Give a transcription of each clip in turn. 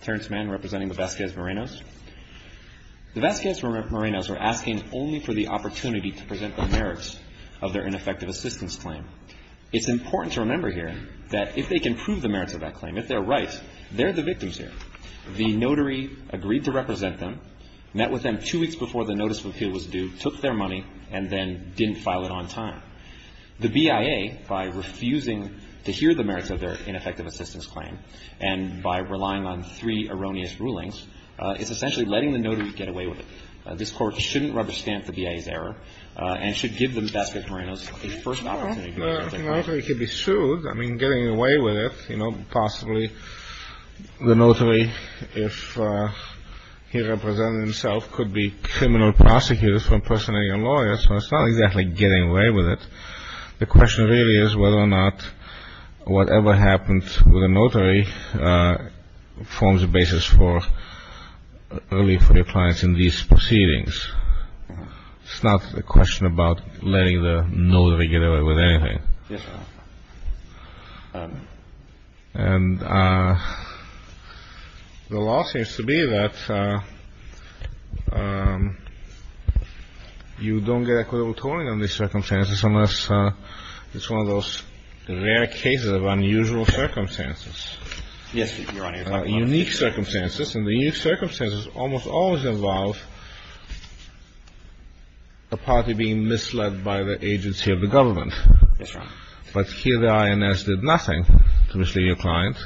Attorney's man representing the Vasquez-Morenos. The Vasquez-Morenos were asking only for the opportunity to present the merits of their ineffective assistance claim. It's important to remember here that if they can prove the merits of that claim, if they're right, they're the victims here. The notary agreed to represent them, met with them two weeks before the notice of appeal was due, took their money, and then didn't file it on time. The BIA, by refusing to hear the merits of their ineffective assistance claim, and by relying on three erroneous rulings, is essentially letting the notary get away with it. This Court shouldn't rubber stamp the BIA's error and should give the Vasquez-Morenos a first opportunity to present their claim. Well, the notary could be sued. I mean, getting away with it, you know, possibly the notary, if he represented himself, could be criminal prosecuted for impersonating a lawyer, so it's not exactly getting away with it. The question really is whether or not whatever happens with a notary forms a basis for relief for your clients in these proceedings. It's not a question about letting the notary get away with anything. And the law seems to be that you don't get equitable compensation for the person who is not a notary. Well, you can't get equitable tolling on these circumstances unless it's one of those rare cases of unusual circumstances. Yes, Your Honor. Unique circumstances. And the unique circumstances almost always involve a party being misled by the agency of the government. Yes, Your Honor. But here the INS did nothing to mislead your client.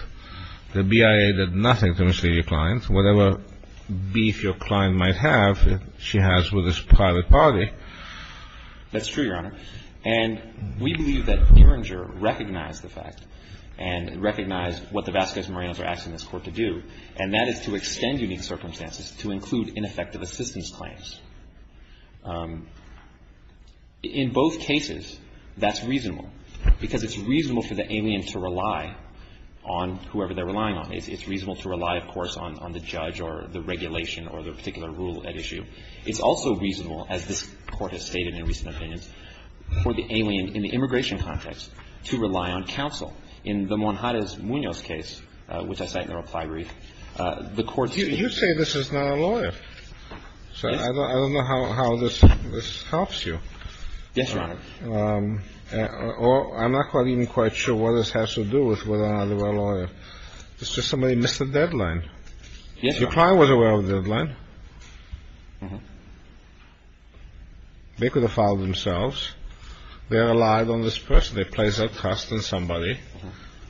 The BIA did nothing to mislead your client. Yes, Your Honor. And we believe that Ehringer recognized the fact and recognized what the Vasquez-Morales are asking this Court to do, and that is to extend unique circumstances to include ineffective assistance claims. In both cases, that's reasonable, because it's reasonable for the alien to rely on whoever they're relying on. It's reasonable to rely, of course, on the judge or the regulation or the particular rule at issue. It's also reasonable, as this Court has stated in recent opinions, for the alien, in the immigration context, to rely on counsel. In the Monjarez-Munoz case, which I cite in the reply brief, the Court's ---- You say this is not a lawyer. Yes. So I don't know how this helps you. Yes, Your Honor. Or I'm not even quite sure what this has to do with whether or not they were a lawyer. It's just somebody missed the deadline. Yes, Your Honor. Your client was aware of the deadline. Mm-hmm. They could have filed themselves. They relied on this person. They placed their trust in somebody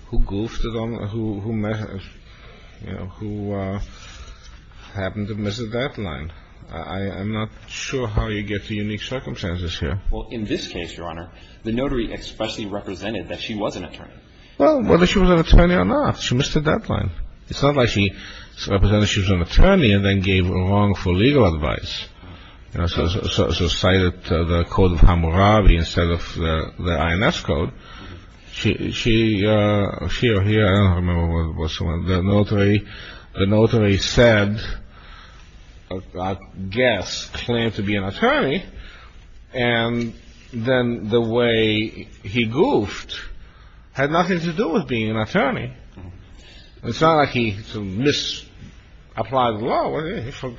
who goofed it on the ---- who, you know, who happened to miss the deadline. I'm not sure how you get to unique circumstances here. Well, in this case, Your Honor, the notary expressly represented that she was an attorney. Well, whether she was an attorney or not, she missed the deadline. It's not like she represented that she was an attorney and then gave wrongful legal advice. You know, so she cited the Code of Hammurabi instead of the INS Code. She or he, I don't remember what someone, the notary said, I guess, claimed to be an attorney. It's not like he misapplied the law.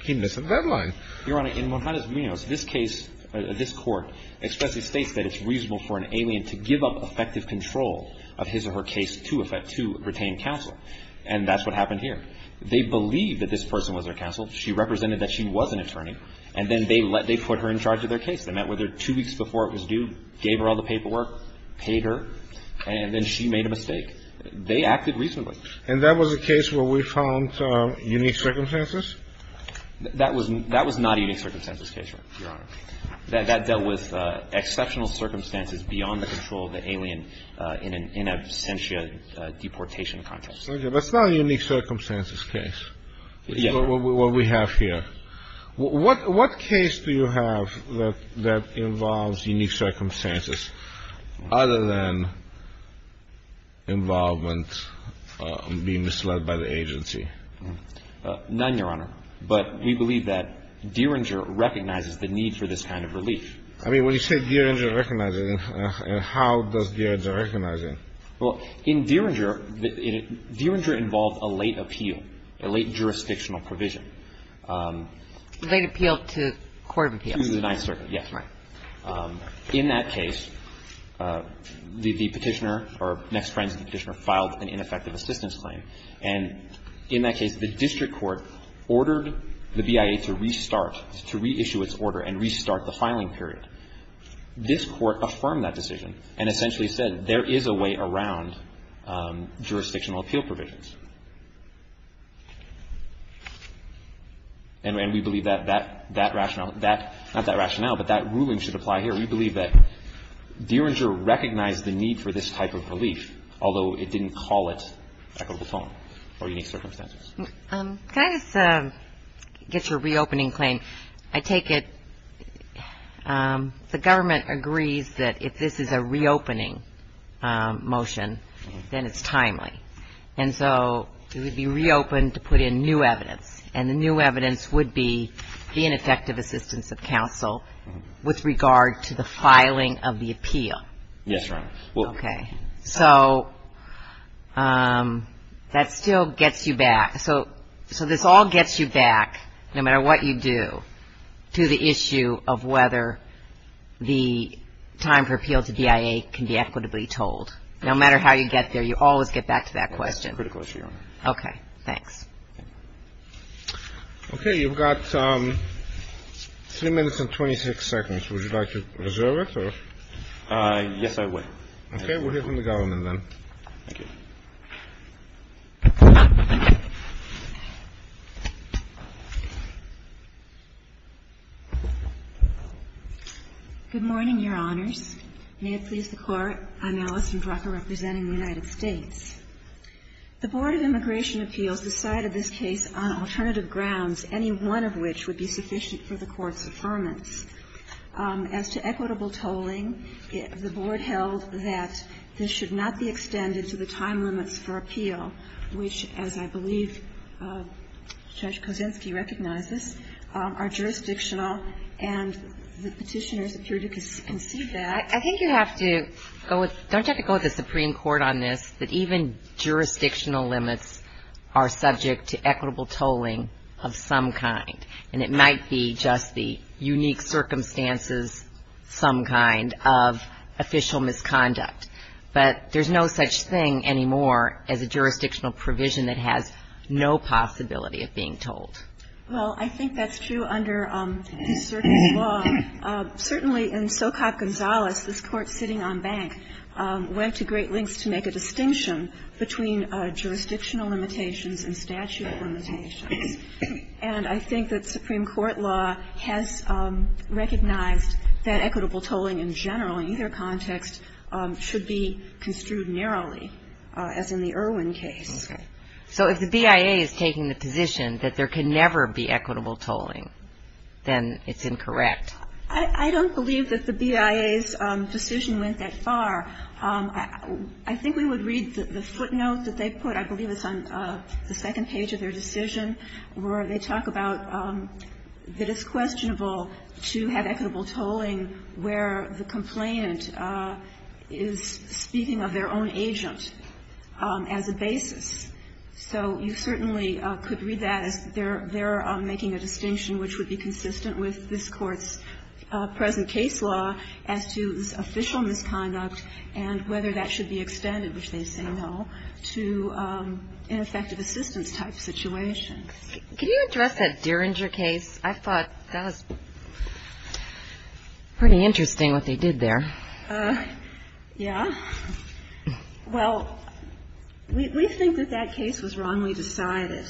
He missed the deadline. Your Honor, in Juan Paredes-Munoz, this case, this court expressly states that it's reasonable for an alien to give up effective control of his or her case to retain counsel. And that's what happened here. They believed that this person was their counsel. She represented that she was an attorney. And then they put her in charge of their case. They met with her two weeks before it was due, gave her all the paperwork, paid her. And then she made a mistake. They acted reasonably. And that was a case where we found unique circumstances? That was not a unique circumstances case, Your Honor. That dealt with exceptional circumstances beyond the control of the alien in an absentia deportation context. Okay. That's not a unique circumstances case, what we have here. What case do you have that involves unique circumstances other than involvement being misled by the agency? None, Your Honor. But we believe that Dieringer recognizes the need for this kind of relief. I mean, when you say Dieringer recognizes it, how does Dieringer recognize it? Well, in Dieringer, Dieringer involved a late appeal, a late jurisdictional provision. Late appeal to court of appeals? To the Ninth Circuit, yes. Right. In that case, the Petitioner or next friends of the Petitioner filed an ineffective assistance claim. And in that case, the district court ordered the BIA to restart, to reissue its order and restart the filing period. This court affirmed that decision and essentially said there is a way around jurisdictional appeal provisions. And we believe that that rationale, not that rationale, but that ruling should apply here. We believe that Dieringer recognized the need for this type of relief, although it didn't call it equitable filing or unique circumstances. Can I just get your reopening claim? I take it the government agrees that if this is a reopening motion, then it's timely. And so it would be reopened to put in new evidence, and the new evidence would be the ineffective assistance of counsel with regard to the filing of the appeal. Yes, Your Honor. Okay. So that still gets you back. So this all gets you back, no matter what you do, to the issue of whether the time for appeal to BIA can be equitably told. No matter how you get there, you always get back to that question. That's critical, Your Honor. Okay. Thanks. Okay. You've got three minutes and 26 seconds. Would you like to reserve it? Yes, I would. Okay. We'll hear from the government then. Thank you. Good morning, Your Honors. May it please the Court, I'm Allison Drucker representing the United States. The Board of Immigration Appeals decided this case on alternative grounds, any one of which would be sufficient for the Court's affirmance. As to equitable tolling, the Board held that this should not be extended to the time limits for appeal, which, as I believe Judge Kosinski recognizes, are jurisdictional. And the Petitioners appear to concede that. I think you have to go with the Supreme Court on this, that even jurisdictional limits are subject to equitable tolling of some kind. And it might be just the unique circumstances, some kind, of official misconduct. But there's no such thing anymore as a jurisdictional provision that has no possibility of being told. Well, I think that's true under the Circus Law. Certainly in Socop Gonzales, this Court sitting on bank, went to great lengths to make a distinction between jurisdictional limitations and statute limitations. And I think that Supreme Court law has recognized that equitable tolling in general, in either context, should be construed narrowly, as in the Irwin case. So if the BIA is taking the position that there can never be equitable tolling, then it's incorrect. I don't believe that the BIA's decision went that far. I think we would read the footnote that they put, I believe it's on the second page of their decision, where they talk about that it's questionable to have equitable tolling where the complainant is speaking of their own agent as a basis. So you certainly could read that as they're making a distinction which would be consistent with this Court's present case law as to official misconduct and whether that should be extended, which they say no, to ineffective assistance type situations. Could you address that Derringer case? I thought that was pretty interesting what they did there. Yeah. Well, we think that that case was wrongly decided.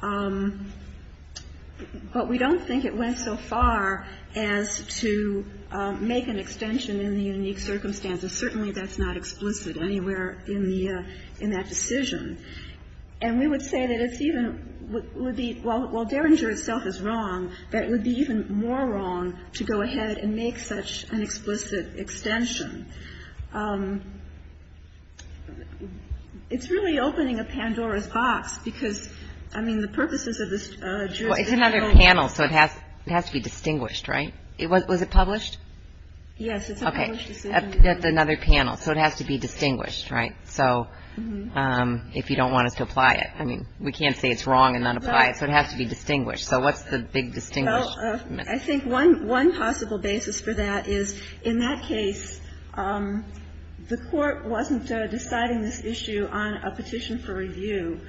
But we don't think it went so far as to make an extension in the unique circumstances. Certainly that's not explicit anywhere in the ‑‑ in that decision. And we would say that it's even ‑‑ well, Derringer itself is wrong, but it would be even more wrong to go ahead and make such an explicit extension. It's really opening a Pandora's box because, I mean, the purposes of this jurisdiction ‑‑ Well, it's another panel, so it has to be distinguished, right? Was it published? Yes, it's a published decision. Okay. It's another panel, so it has to be distinguished, right? So if you don't want us to apply it. I mean, we can't say it's wrong and then apply it. So it has to be distinguished. So what's the big distinguished ‑‑ Well, I think one possible basis for that is in that case, the court wasn't deciding this issue on a petition for review.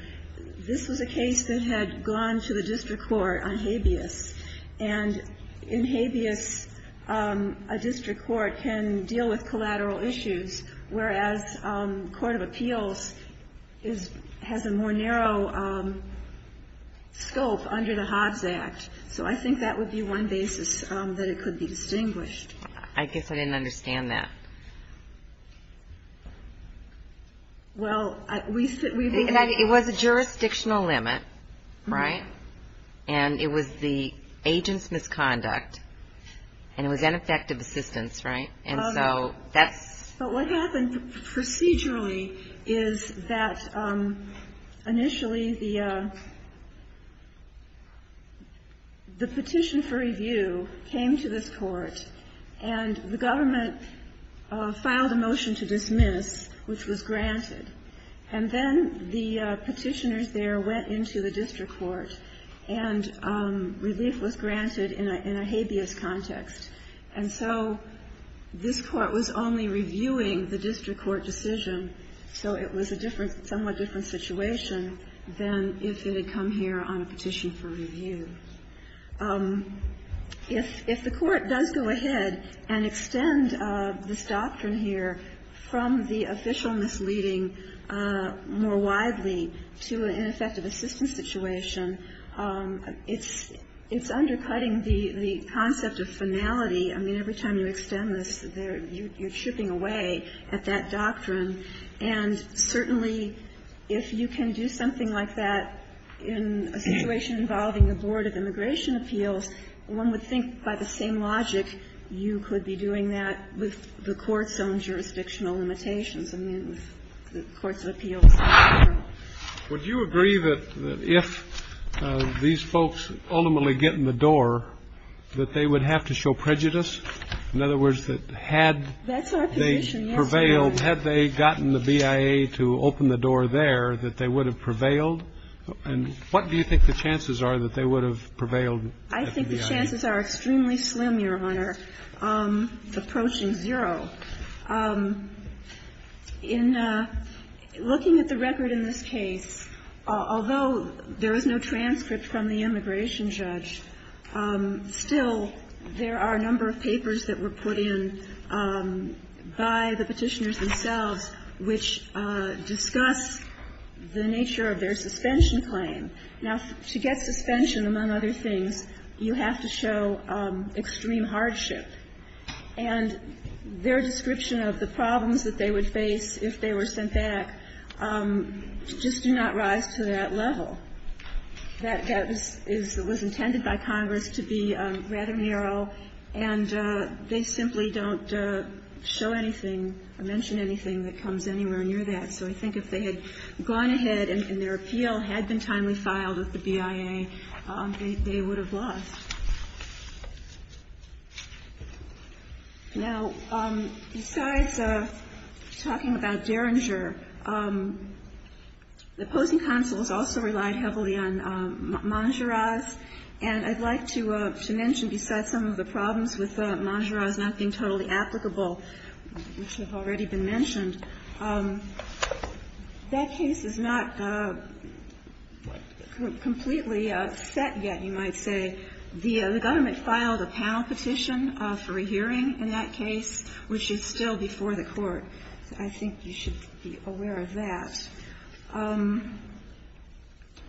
This was a case that had gone to the district court on habeas. And in habeas, a district court can deal with collateral issues, whereas court of appeals has a more narrow scope under the Hobbs Act. So I think that would be one basis that it could be distinguished. I guess I didn't understand that. Well, we said ‑‑ It was a jurisdictional limit, right? And it was the agent's misconduct, and it was ineffective assistance, right? And so that's ‑‑ But what happened procedurally is that initially the petition for review came to this court, and the government filed a motion to dismiss, which was granted. And then the petitioners there went into the district court, and relief was granted in a habeas context. And so this court was only reviewing the district court decision, so it was a somewhat different situation than if it had come here on a petition for review. If the court does go ahead and extend this doctrine here from the official misleading more widely to an ineffective assistance situation, it's undercutting the concept of finality. I mean, every time you extend this, you're chipping away at that doctrine. And certainly if you can do something like that in a situation involving a board of immigration appeals, one would think by the same logic you could be doing that with the court's own jurisdictional limitations, I mean, with the courts of appeals. Would you agree that if these folks ultimately get in the door, that they would have to show prejudice? In other words, that had they prevailed, had they gotten the BIA to open the door there, that they would have prevailed? And what do you think the chances are that they would have prevailed? I think the chances are extremely slim, Your Honor, approaching zero. In looking at the record in this case, although there is no transcript from the immigration judge, still there are a number of papers that were put in by the petitioners themselves which discuss the nature of their suspension claim. Now, to get suspension, among other things, you have to show extreme hardship. And their description of the problems that they would face if they were sent back just do not rise to that level. That was intended by Congress to be rather narrow, and they simply don't show anything or mention anything that comes anywhere near that. So I think if they had gone ahead and their appeal had been timely filed with the BIA, they would have lost. Now, besides talking about Derringer, the opposing counsels also relied heavily on Mangeras, and I'd like to mention besides some of the problems with Mangeras not being totally applicable, which have already been mentioned, that case is not completely set yet, you might say. The government filed a panel petition for a hearing in that case, which is still before the Court. I think you should be aware of that.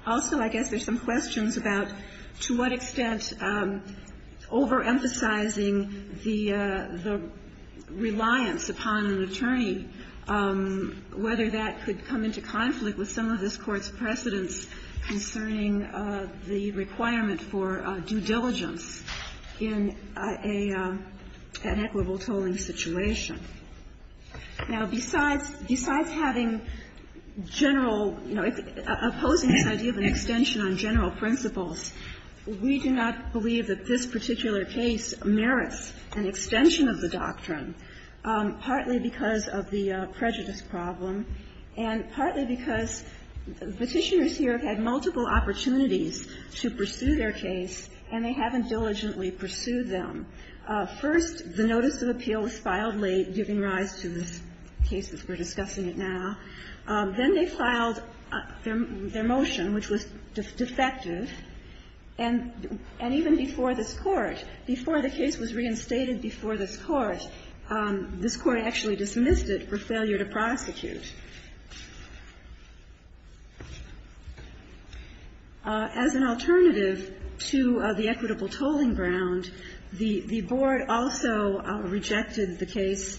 Also, I guess there's some questions about to what extent overemphasizing the reliance upon an attorney, whether that could come into conflict with some of this Court's precedents concerning the requirement for due diligence in an equitable tolling situation. Now, besides having general, you know, opposing this idea of an extension on general principles, we do not believe that this particular case merits an extension of the doctrine, partly because of the prejudice problem and partly because Petitioners here have had multiple opportunities to pursue their case, and they haven't diligently pursued them. First, the notice of appeal was filed late, giving rise to this case as we're discussing it now. Then they filed their motion, which was defective. And even before this Court, before the case was reinstated before this Court, this Court actually dismissed it for failure to prosecute. As an alternative to the equitable tolling ground, the Board also rejected the case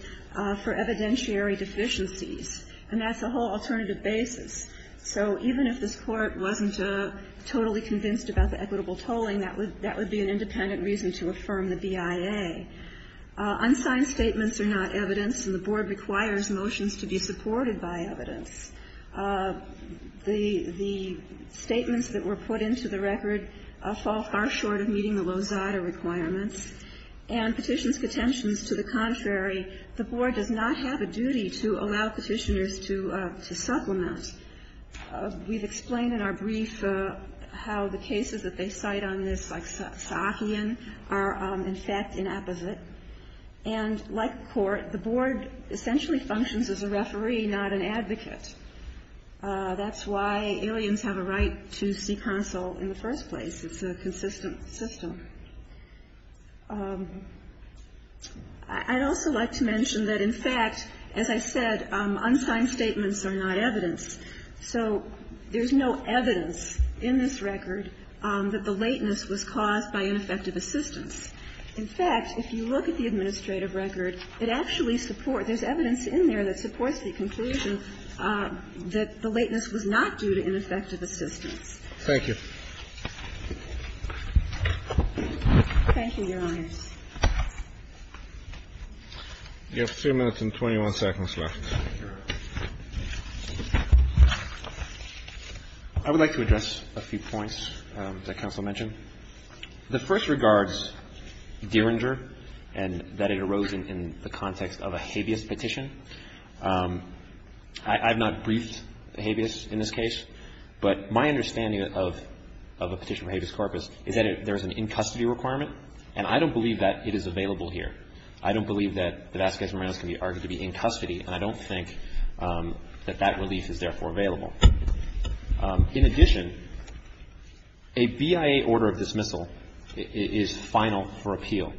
for evidentiary deficiencies, and that's a whole alternative basis. So even if this Court wasn't totally convinced about the equitable tolling, that would be an independent reason to affirm the BIA. Unsigned statements are not evidence, and the Board requires motions to be supported by evidence. The statements that were put into the record fall far short of meeting the Lozada requirements. And Petitioners' contentions, to the contrary, the Board does not have a duty to allow We've explained in our brief how the cases that they cite on this, like Sahian, are in fact inapposite. And like the Court, the Board essentially functions as a referee, not an advocate. That's why aliens have a right to see counsel in the first place. It's a consistent system. I'd also like to mention that, in fact, as I said, unsigned statements are not evidence. So there's no evidence in this record that the lateness was caused by ineffective assistance. In fact, if you look at the administrative record, it actually supports the conclusion that the lateness was not due to ineffective assistance. Thank you. Thank you, Your Honors. You have 3 minutes and 21 seconds left. I would like to address a few points that counsel mentioned. The first regards Dieringer and that it arose in the context of a habeas petition. I've not briefed the habeas in this case, but my understanding of a petition for habeas corpus is that there's an in-custody requirement, and I don't believe that it is available here. I don't believe that the Vasquez-Moranos can be argued to be in custody, and I don't think that that relief is therefore available. In addition, a BIA order of dismissal is final for appeal.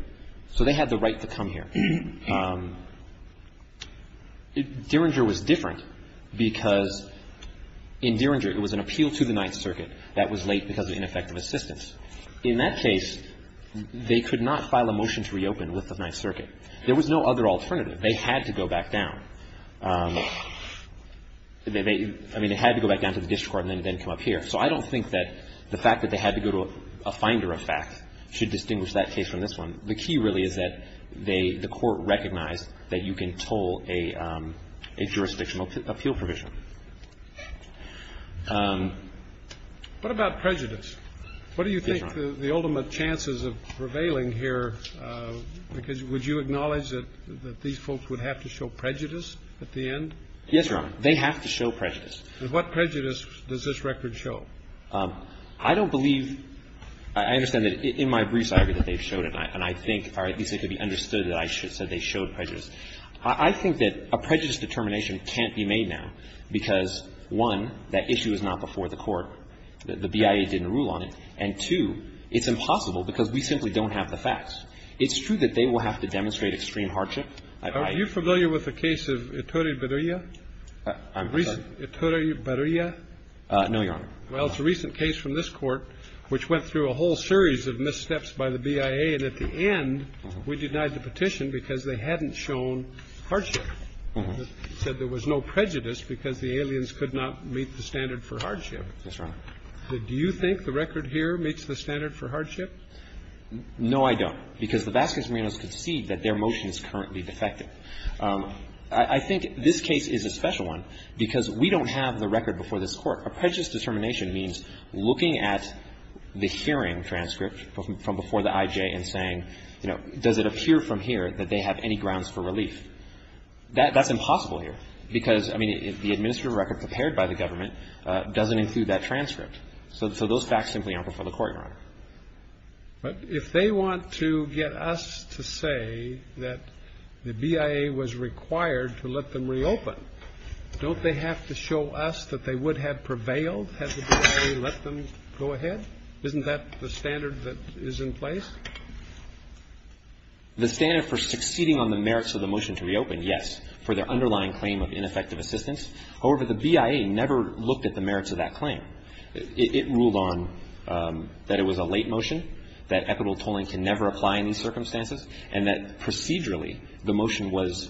So they had the right to come here. Dieringer was different because, in Dieringer, it was an appeal to the Ninth Circuit that was late because of ineffective assistance. In that case, they could not file a motion to reopen with the Ninth Circuit. There was no other alternative. They had to go back down. I mean, they had to go back down to the district court and then come up here. So I don't think that the fact that they had to go to a finder of facts should distinguish that case from this one. The key really is that they, the court, recognized that you can toll a jurisdictional appeal provision. What about prejudice? Yes, Your Honor. What do you think the ultimate chances of prevailing here, because would you acknowledge that these folks would have to show prejudice at the end? Yes, Your Honor. They have to show prejudice. And what prejudice does this record show? I don't believe – I understand that in my briefs, I agree that they've showed it, and I think, or at least it could be understood that I said they showed prejudice. I think that a prejudice determination can't be made now. I don't believe that they have to show prejudice because, one, that issue is not before the court. The BIA didn't rule on it. And, two, it's impossible because we simply don't have the facts. It's true that they will have to demonstrate extreme hardship. Are you familiar with the case of Ettore Berria? I'm sorry? Ettore Berria? No, Your Honor. Well, it's a recent case from this Court which went through a whole series of missteps by the BIA, and at the end we denied the petition because they hadn't shown hardship. They said there was no prejudice because the aliens could not meet the standard for hardship. Yes, Your Honor. Do you think the record here meets the standard for hardship? No, I don't. Because the Vasquez-Marinos concede that their motion is currently defective. I think this case is a special one because we don't have the record before this Court. A prejudice determination means looking at the hearing transcript from before the IJ and saying, you know, does it appear from here that they have any grounds for relief? That's impossible here because, I mean, the administrative record prepared by the government doesn't include that transcript. So those facts simply aren't before the Court, Your Honor. But if they want to get us to say that the BIA was required to let them reopen, don't they have to show us that they would have prevailed had the BIA let them go ahead? Isn't that the standard that is in place? The standard for succeeding on the merits of the motion to reopen, yes, for their underlying claim of ineffective assistance. However, the BIA never looked at the merits of that claim. It ruled on that it was a late motion, that equitable tolling can never apply in these circumstances, and that procedurally the motion was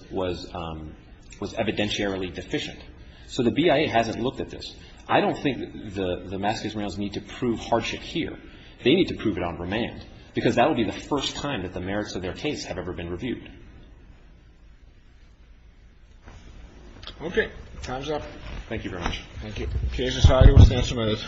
evidentiarily deficient. So the BIA hasn't looked at this. I don't think the Vasquez-Marinos need to prove hardship here. They need to prove it on remand, because that would be the first time that the merits of their case have ever been reviewed. Okay. Time's up. Thank you very much. Thank you. The case is hired. We'll stand some minutes.